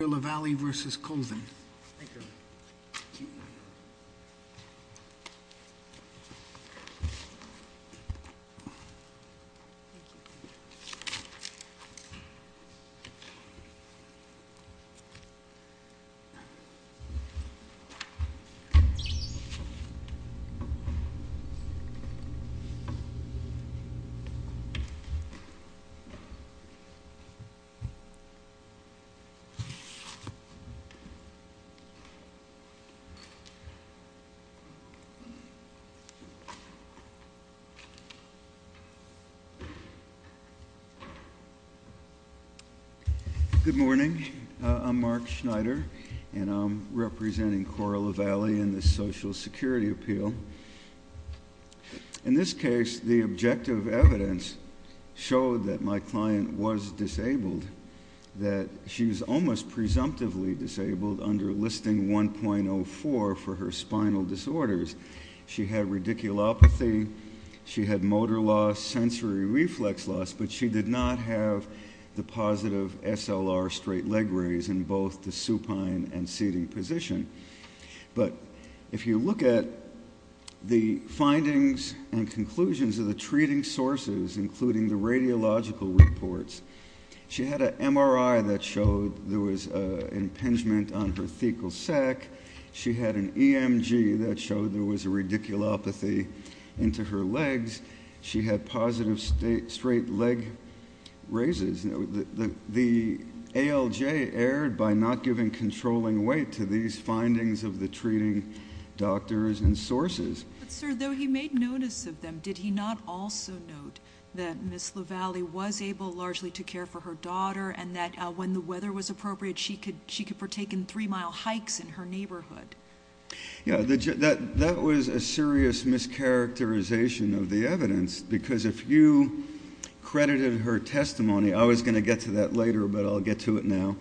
Thank you. Good morning, I'm Mark Schneider, and I'm representing Cora La Valle in the Social Security Appeal. In this case, the objective evidence showed that my client was disabled, that she was almost presumptively disabled under Listing 1.04 for her spinal disorders. She had radiculopathy, she had motor loss, sensory reflex loss, but she did not have the positive SLR straight leg raise in both the supine and seating position. But if you look at the findings and conclusions of the treating sources, including the radiological reports, she had an MRI that showed there was an impingement on her fecal sac, she had an EMG that showed there was a radiculopathy into her legs, she had positive straight leg raises. The ALJ erred by not giving controlling weight to these findings of the treating doctors and sources. But sir, though he made notice of them, did he not also note that Ms. La Valle was able largely to care for her daughter and that when the weather was appropriate, she could partake in three-mile hikes in her neighborhood? Yeah, that was a serious mischaracterization of the evidence, because if you credited her testimony, I was going to get to that later, but I'll get to it now,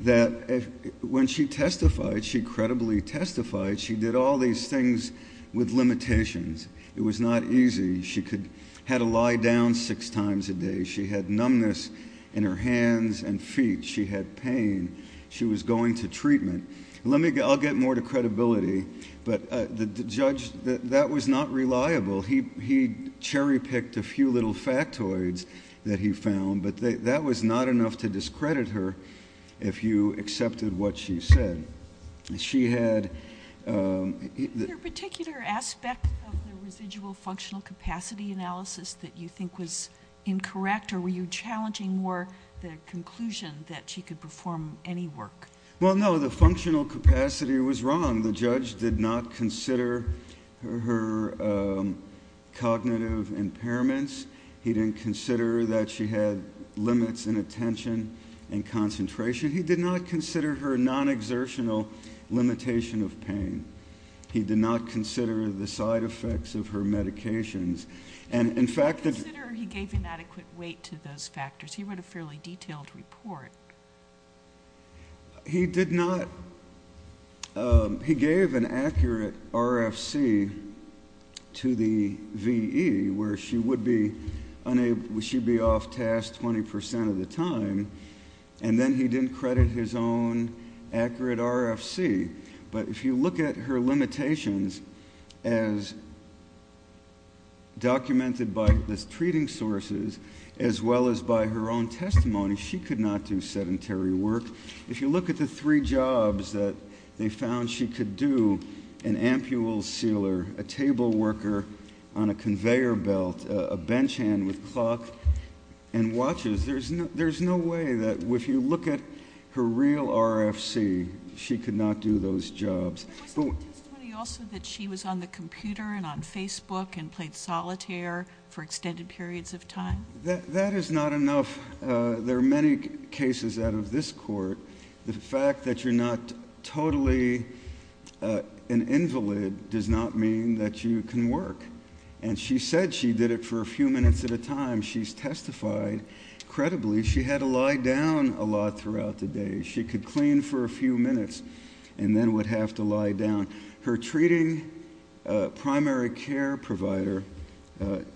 that when she testified, she credibly testified, she did all these things with limitations. It was not easy. She had to lie down six times a day. She had numbness in her hands and feet. She had pain. She was going to treatment. I'll get more to credibility, but the judge, that was not reliable. He cherry-picked a few little factoids that he found, but that was not enough to discredit her if you accepted what she said. She had... Was there a particular aspect of the residual functional capacity analysis that you think was incorrect, or were you challenging more the conclusion that she could perform any work? Well, no. The functional capacity was wrong. The judge did not consider her cognitive impairments. He didn't consider that she had limits in attention and concentration. He did not consider her non-exertional limitation of pain. He did not consider the side effects of her medications, and, in fact... He gave inadequate weight to those factors. He wrote a fairly detailed report. He did not... He gave an accurate RFC to the VE, where she would be off-task 20% of the time, and then he didn't credit his own accurate RFC, but if you look at her limitations as documented by the treating sources, as well as by her own testimony, she could not do sedentary work. If you look at the three jobs that they found she could do, an ampule sealer, a table worker on a conveyor belt, a bench hand with clock and watches, there's no way that, if you look at her real RFC, she could not do those jobs. But wasn't the testimony also that she was on the computer and on Facebook and played solitaire for extended periods of time? That is not enough. There are many cases out of this court. The fact that you're not totally an invalid does not mean that you can work, and she said she did it for a few minutes at a time. She's testified credibly. She had to lie down a lot throughout the day. She could clean for a few minutes and then would have to lie down. Her treating primary care provider,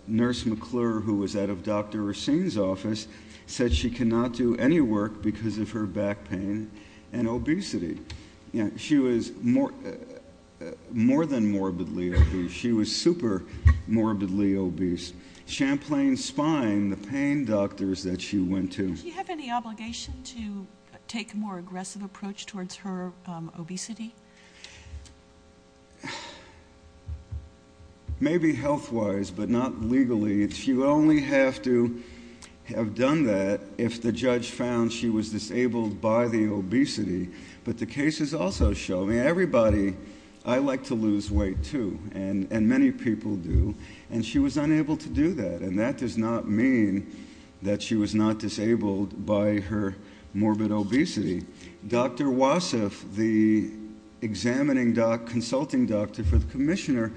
Nurse McClure, who was out of Dr. Racine's office, said she could not do any work because of her back pain and obesity. She was more than morbidly obese. She was super morbidly obese. Champlain Spine, the pain doctors that she went to. Does she have any obligation to take a more aggressive approach towards her obesity? Maybe health-wise, but not legally. She would only have to have done that if the judge found she was disabled by the obesity. But the cases also show, everybody, I like to lose weight too, and many people do. And she was unable to do that. And that does not mean that she was not disabled by her morbid obesity. Dr. Wassef, the examining doctor, consulting doctor for the commissioner,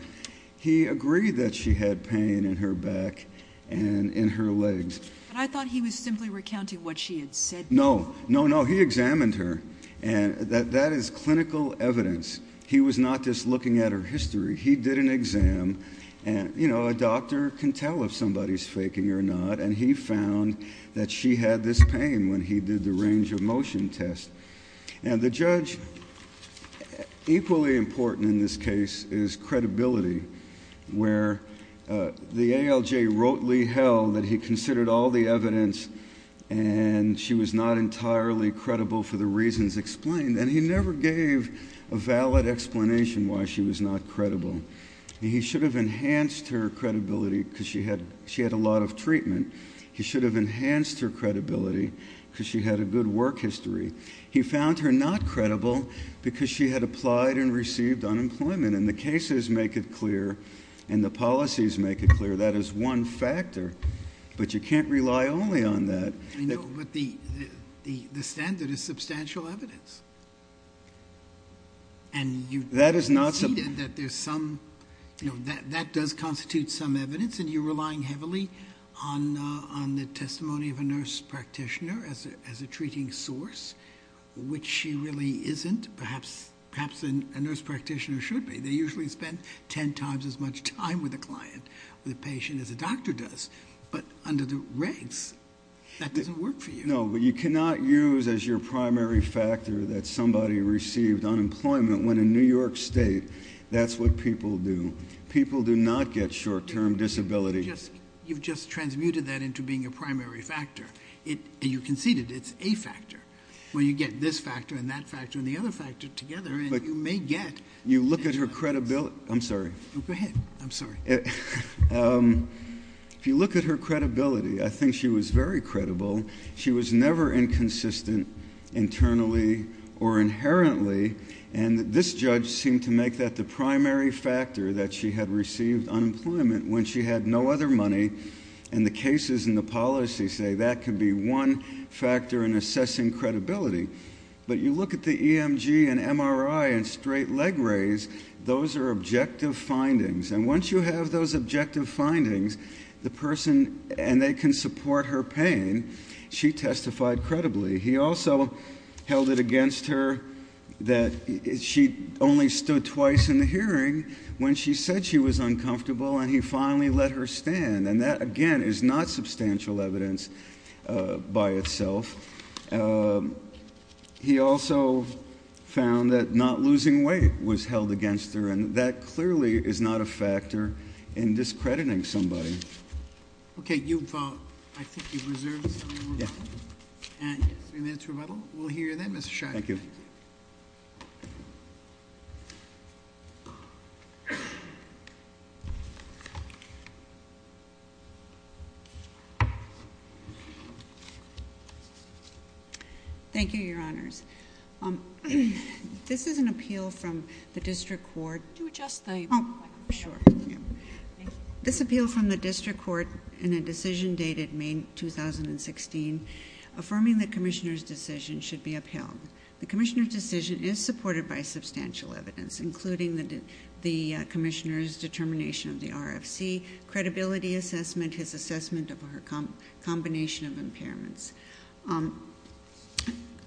he agreed that she had pain in her back and in her legs. But I thought he was simply recounting what she had said. No, no, no, he examined her. And that is clinical evidence. He was not just looking at her history. He did an exam. And a doctor can tell if somebody's faking or not. And he found that she had this pain when he did the range of motion test. And the judge, equally important in this case, is credibility, where the ALJ wrotely held that he considered all the evidence and she was not entirely credible for the reasons explained. And he never gave a valid explanation why she was not credible. He should have enhanced her credibility because she had a lot of treatment. He should have enhanced her credibility because she had a good work history. He found her not credible because she had applied and received unemployment. And the cases make it clear. And the policies make it clear. That is one factor. But you can't rely only on that. I know, but the standard is substantial evidence. And you see that there's some, you know, that does constitute some evidence and you're relying heavily on the testimony of a nurse practitioner as a treating source, which she really isn't. Perhaps a nurse practitioner should be. They usually spend 10 times as much time with a client, with a patient, as a doctor does. But under the regs, that doesn't work for you. No, but you cannot use as your primary factor that somebody received unemployment when in New York State, that's what people do. People do not get short-term disabilities. You've just transmuted that into being a primary factor. You conceded it's a factor. When you get this factor and that factor and the other factor together, you may get... You look at her credibility... I'm sorry. Go ahead. I'm sorry. If you look at her credibility, I think she was very credible. She was never inconsistent internally or inherently. And this judge seemed to make that the primary factor that she had received unemployment when she had no other money. And the cases and the policies say that could be one factor in assessing credibility. But you look at the EMG and MRI and straight leg rays, those are objective findings. And once you have those objective findings, the person...and they can support her pain, she testified credibly. He also held it against her that she only stood twice in the hearing when she said she was uncomfortable and he finally let her stand. And that, again, is not substantial evidence by itself. He also found that not losing weight was held against her and that clearly is not a factor in discrediting somebody. OK, you vote. I think you've reserved the final vote. And three minutes rebuttal. We'll hear you then, Mr Shirey. Thank you. Thank you, Your Honours. This is an appeal from the District Court... Do you adjust the microphone? Oh, sure. This appeal from the District Court in a decision dated May 2016 affirming the Commissioner's decision should be upheld. The Commissioner's decision is supported by substantial evidence, including the Commissioner's determination of the RFC, credibility assessment, his assessment of her combination of impairments.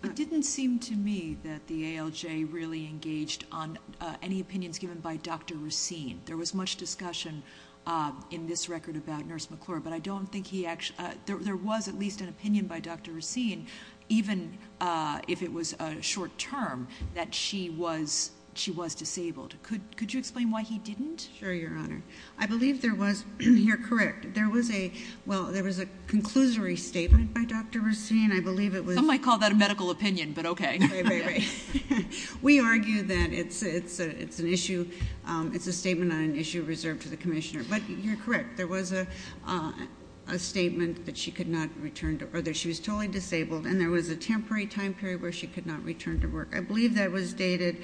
It didn't seem to me that the ALJ really engaged on any opinions given by Dr Racine. There was much discussion in this record about Nurse McClure, but I don't think he actually... There was at least an opinion by Dr Racine, even if it was short-term, that she was disabled. Could you explain why he didn't? Sure, Your Honour. I believe there was... You're correct. There was a... Well, there was a conclusory statement by Dr Racine I believe it was... Some might call that a medical opinion, but OK. We argue that it's an issue... It's a statement on an issue reserved to the Commissioner. But you're correct. There was a statement that she could not return to... She was totally disabled and there was a temporary time period where she could not return to work. I believe that was dated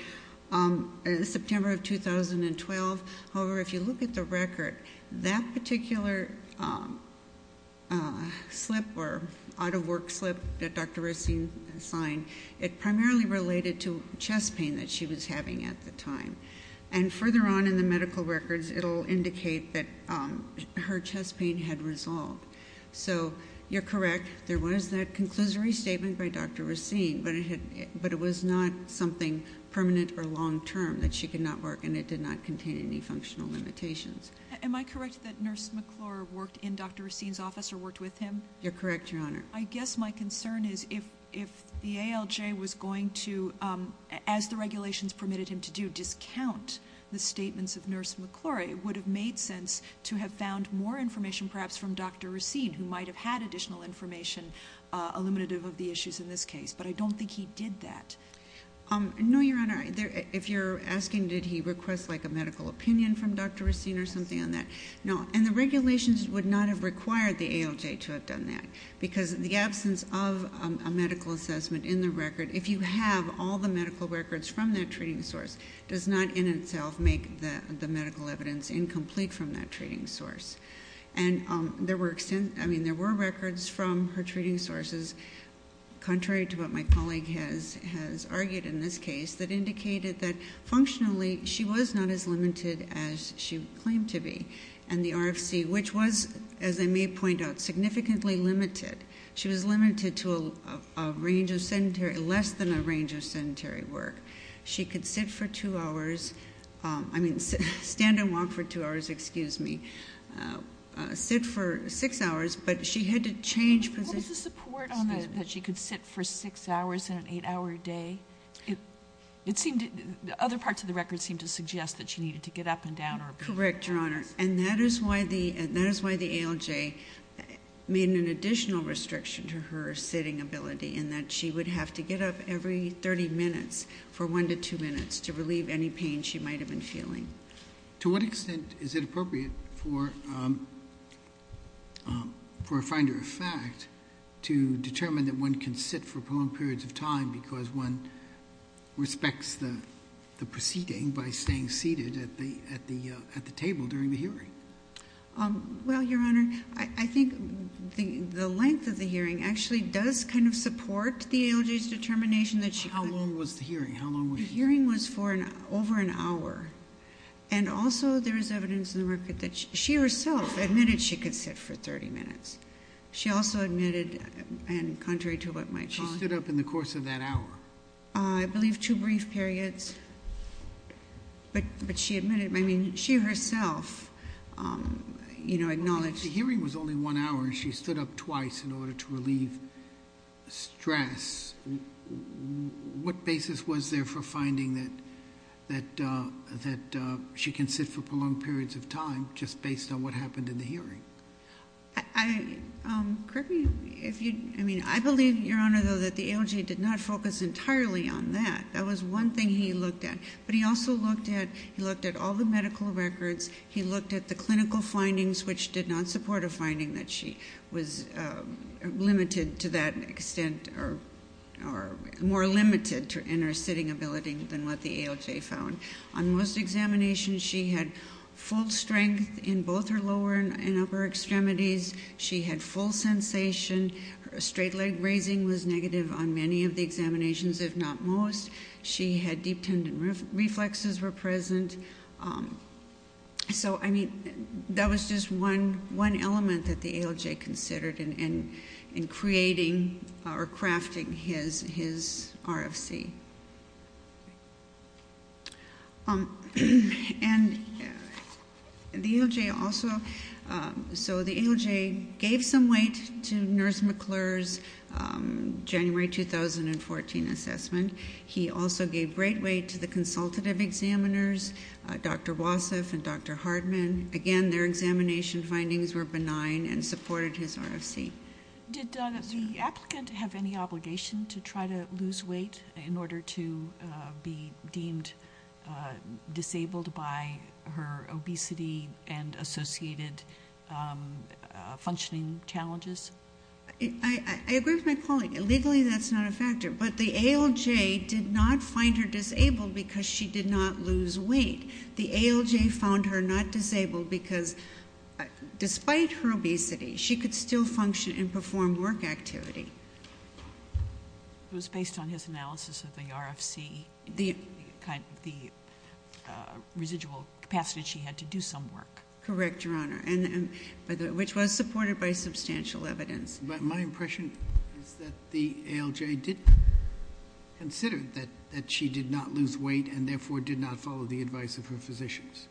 September of 2012. However, if you look at the record, that particular slip or out-of-work slip that Dr Racine signed, it primarily related to chest pain that she was having at the time. And further on in the medical records, it will indicate that her chest pain had resolved. So you're correct, there was that conclusory statement by Dr Racine, but it was not something permanent or long-term, that she could not work and it did not contain any functional limitations. Am I correct that Nurse McClure worked in Dr Racine's office or worked with him? You're correct, Your Honor. I guess my concern is if the ALJ was going to, as the regulations permitted him to do, discount the statements of Nurse McClure, it would have made sense to have found more information perhaps from Dr Racine who might have had additional information eliminative of the issues in this case. But I don't think he did that. No, Your Honor. If you're asking did he request a medical opinion from Dr Racine or something on that, no. And the regulations would not have required the ALJ to have done that because the absence of a medical assessment in the record, if you have all the medical records from that treating source, does not in itself make the medical evidence incomplete from that treating source. And there were records from her treating sources, contrary to what my colleague has argued in this case, that indicated that functionally she was not as limited as she claimed to be. And the RFC, which was, as I may point out, significantly limited. She was limited to a range of sedentary, less than a range of sedentary work. She could sit for two hours, I mean stand and walk for two hours, excuse me, sit for six hours, but she had to change positions. Is the support that she could sit for six hours in an eight-hour day? Other parts of the record seem to suggest that she needed to get up and down. Correct, Your Honor. And that is why the ALJ made an additional restriction to her sitting ability in that she would have to get up every 30 minutes for one to two minutes to relieve any pain she might have been feeling. To what extent is it appropriate for a finder of fact to determine that one can sit for prolonged periods of time because one respects the proceeding by staying seated at the table during the hearing? Well, Your Honor, I think the length of the hearing actually does kind of support the ALJ's determination that she could. How long was the hearing? The hearing was for over an hour, and also there is evidence in the record that she herself admitted she could sit for 30 minutes. She also admitted, and contrary to what my colleague... She stood up in the course of that hour? I believe two brief periods, but she admitted. I mean, she herself acknowledged... The hearing was only one hour, and she stood up twice in order to relieve stress. What basis was there for finding that she can sit for prolonged periods of time just based on what happened in the hearing? Kirby, if you... I mean, I believe, Your Honor, though, that the ALJ did not focus entirely on that. That was one thing he looked at. But he also looked at all the medical records. He looked at the clinical findings, which did not support a finding that she was limited to that extent or more limited in her sitting ability than what the ALJ found. On most examinations, she had full strength in both her lower and upper extremities. She had full sensation. Her straight leg raising was negative on many of the examinations, if not most. She had deep tendon reflexes were present. So, I mean, that was just one element that the ALJ considered in creating or crafting his RFC. And the ALJ also... So the ALJ gave some weight to Nurse McClure's January 2014 assessment. He also gave great weight to the consultative examiners, Dr. Wassef and Dr. Hardman. Again, their examination findings were benign and supported his RFC. Did the applicant have any obligation to try to lose weight in order to be deemed disabled by her obesity and associated functioning challenges? I agree with my colleague. Legally, that's not a factor. But the ALJ did not find her disabled because she did not lose weight. The ALJ found her not disabled because, despite her obesity, she could still function and perform work activity. It was based on his analysis of the RFC, the residual capacity that she had to do some work. Correct, Your Honor, which was supported by substantial evidence. But my impression is that the ALJ did consider that she did not lose weight and therefore did not follow the advice of her physicians.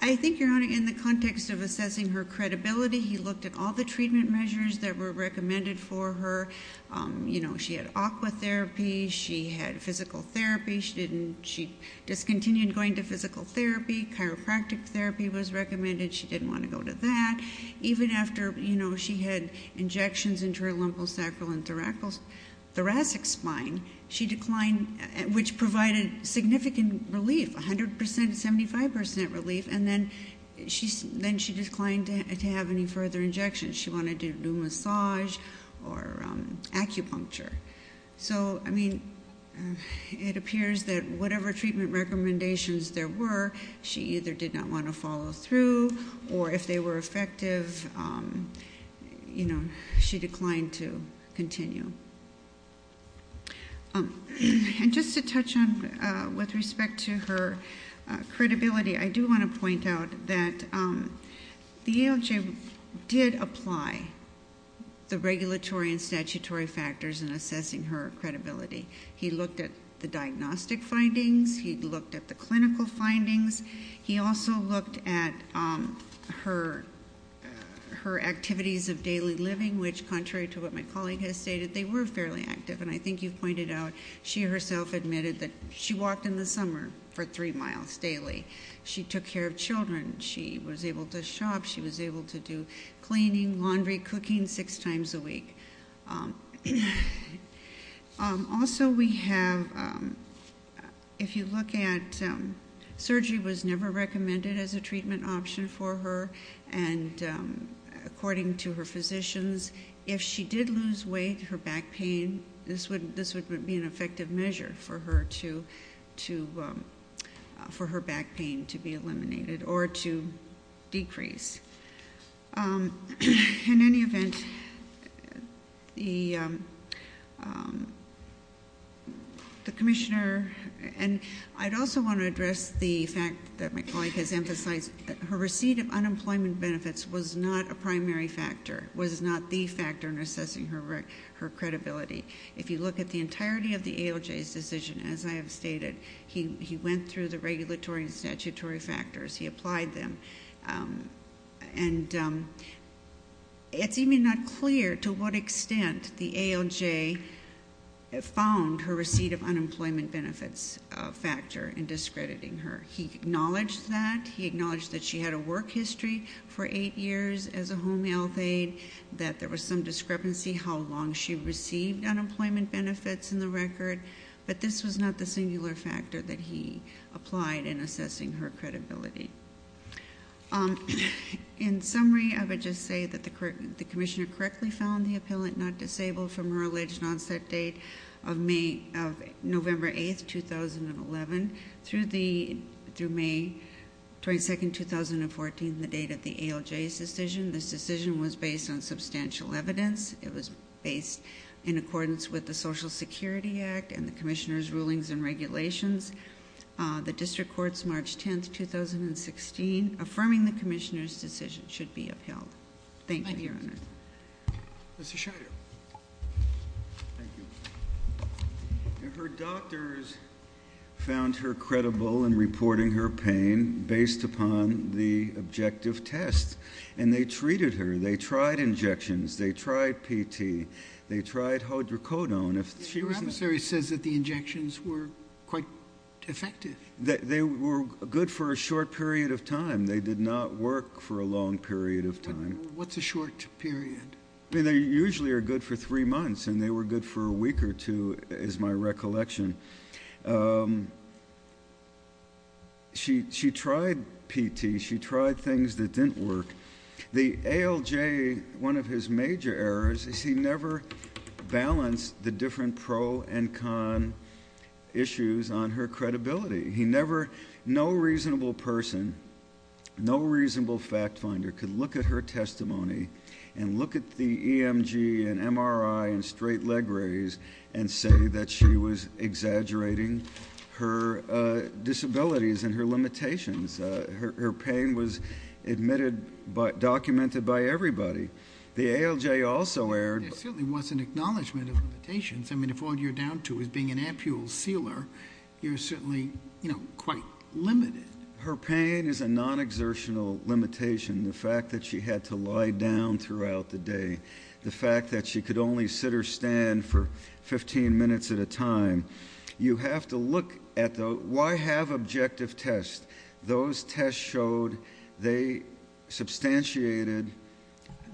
I think, Your Honor, in the context of assessing her credibility, he looked at all the treatment measures that were recommended for her. You know, she had aqua therapy. She had physical therapy. She discontinued going to physical therapy. Chiropractic therapy was recommended. She didn't want to go to that. Even after, you know, she had injections into her lumbosacral and thoracic spine, she declined, which provided significant relief, 100%, 75% relief, and then she declined to have any further injections. She wanted to do massage or acupuncture. So, I mean, it appears that whatever treatment recommendations there were, she either did not want to follow through, or if they were effective, you know, she declined to continue. And just to touch on with respect to her credibility, I do want to point out that the ALJ did apply the regulatory and statutory factors in assessing her credibility. He looked at the diagnostic findings. He looked at the clinical findings. He also looked at her activities of daily living, which contrary to what my colleague has stated, they were fairly active, and I think you've pointed out she herself admitted that she walked in the summer for three miles daily. She took care of children. She was able to shop. She was able to do cleaning, laundry, cooking six times a week. Also, we have, if you look at surgery was never recommended as a treatment option for her, and according to her physicians, if she did lose weight, her back pain, this would be an effective measure for her back pain to be eliminated or to decrease. In any event, the commissioner, and I'd also want to address the fact that my colleague has emphasized that her receipt of unemployment benefits was not a primary factor, was not the factor in assessing her credibility. If you look at the entirety of the ALJ's decision, as I have stated, he went through the regulatory and statutory factors. He applied them. And it's even not clear to what extent the ALJ found her receipt of unemployment benefits a factor in discrediting her. He acknowledged that. He acknowledged that she had a work history for eight years as a home health aide, that there was some discrepancy how long she received unemployment benefits in the record, but this was not the singular factor that he applied in assessing her credibility. In summary, I would just say that the commissioner correctly found the appellant not disabled from her alleged onset date of November 8, 2011, through May 22, 2014, the date of the ALJ's decision. This decision was based on substantial evidence. It was based in accordance with the Social Security Act and the commissioner's rulings and regulations. The district court's March 10, 2016, affirming the commissioner's decision, should be upheld. Thank you, Your Honor. Mr. Scheider. Her doctors found her credible in reporting her pain based upon the objective test. And they treated her. They tried injections. They tried PT. They tried hodrocodone. Your adversary says that the injections were quite effective. They were good for a short period of time. They did not work for a long period of time. What's a short period? I mean, they usually are good for three months, and they were good for a week or two is my recollection. She tried PT. She tried things that didn't work. The ALJ, one of his major errors is he never balanced the different pro and con issues on her credibility. He never, no reasonable person, no reasonable fact finder could look at her testimony and look at the EMG and MRI and straight leg rays and say that she was exaggerating her disabilities and her limitations. Her pain was admitted, documented by everybody. The ALJ also erred. There certainly was an acknowledgment of limitations. I mean, if all you're down to is being an ampule sealer, you're certainly, you know, quite limited. Her pain is a non-exertional limitation, the fact that she had to lie down throughout the day, the fact that she could only sit or stand for 15 minutes at a time. You have to look at the why have objective tests. Those tests showed they substantiated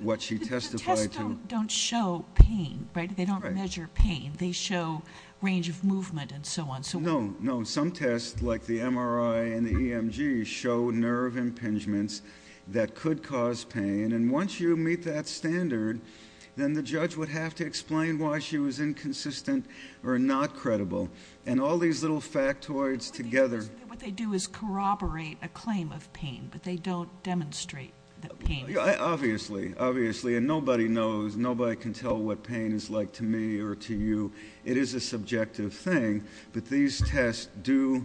what she testified to. The tests don't show pain, right? They don't measure pain. They show range of movement and so on. No, no. Some tests, like the MRI and the EMG, show nerve impingements that could cause pain, and once you meet that standard, then the judge would have to explain why she was inconsistent or not credible, and all these little factoids together. What they do is corroborate a claim of pain, but they don't demonstrate the pain. Obviously, obviously, and nobody knows. Nobody can tell what pain is like to me or to you. It is a subjective thing, but these tests do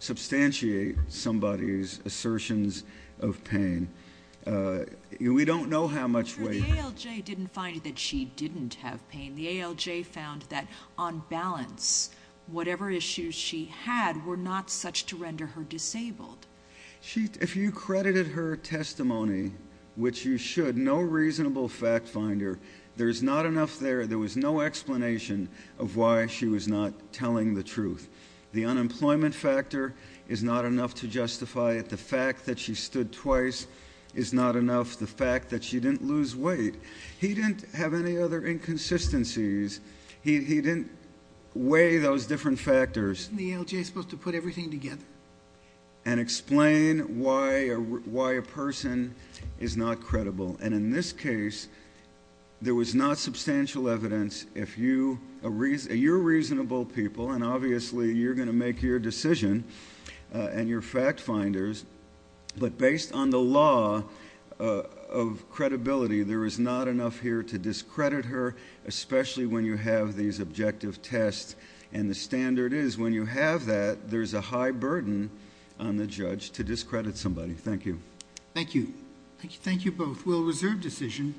substantiate somebody's assertions of pain. We don't know how much weight. The ALJ didn't find that she didn't have pain. The ALJ found that, on balance, whatever issues she had were not such to render her disabled. If you credited her testimony, which you should, no reasonable fact finder, there is not enough there. There was no explanation of why she was not telling the truth. The unemployment factor is not enough to justify it. The fact that she stood twice is not enough. The fact that she didn't lose weight. He didn't have any other inconsistencies. He didn't weigh those different factors. Isn't the ALJ supposed to put everything together? And explain why a person is not credible, and in this case, there was not substantial evidence. You're reasonable people, and obviously, you're going to make your decision, and you're fact finders, but based on the law of credibility, there is not enough here to discredit her, especially when you have these objective tests. The standard is, when you have that, there's a high burden on the judge to discredit somebody. Thank you. Thank you. Thank you both. We'll reserve decision.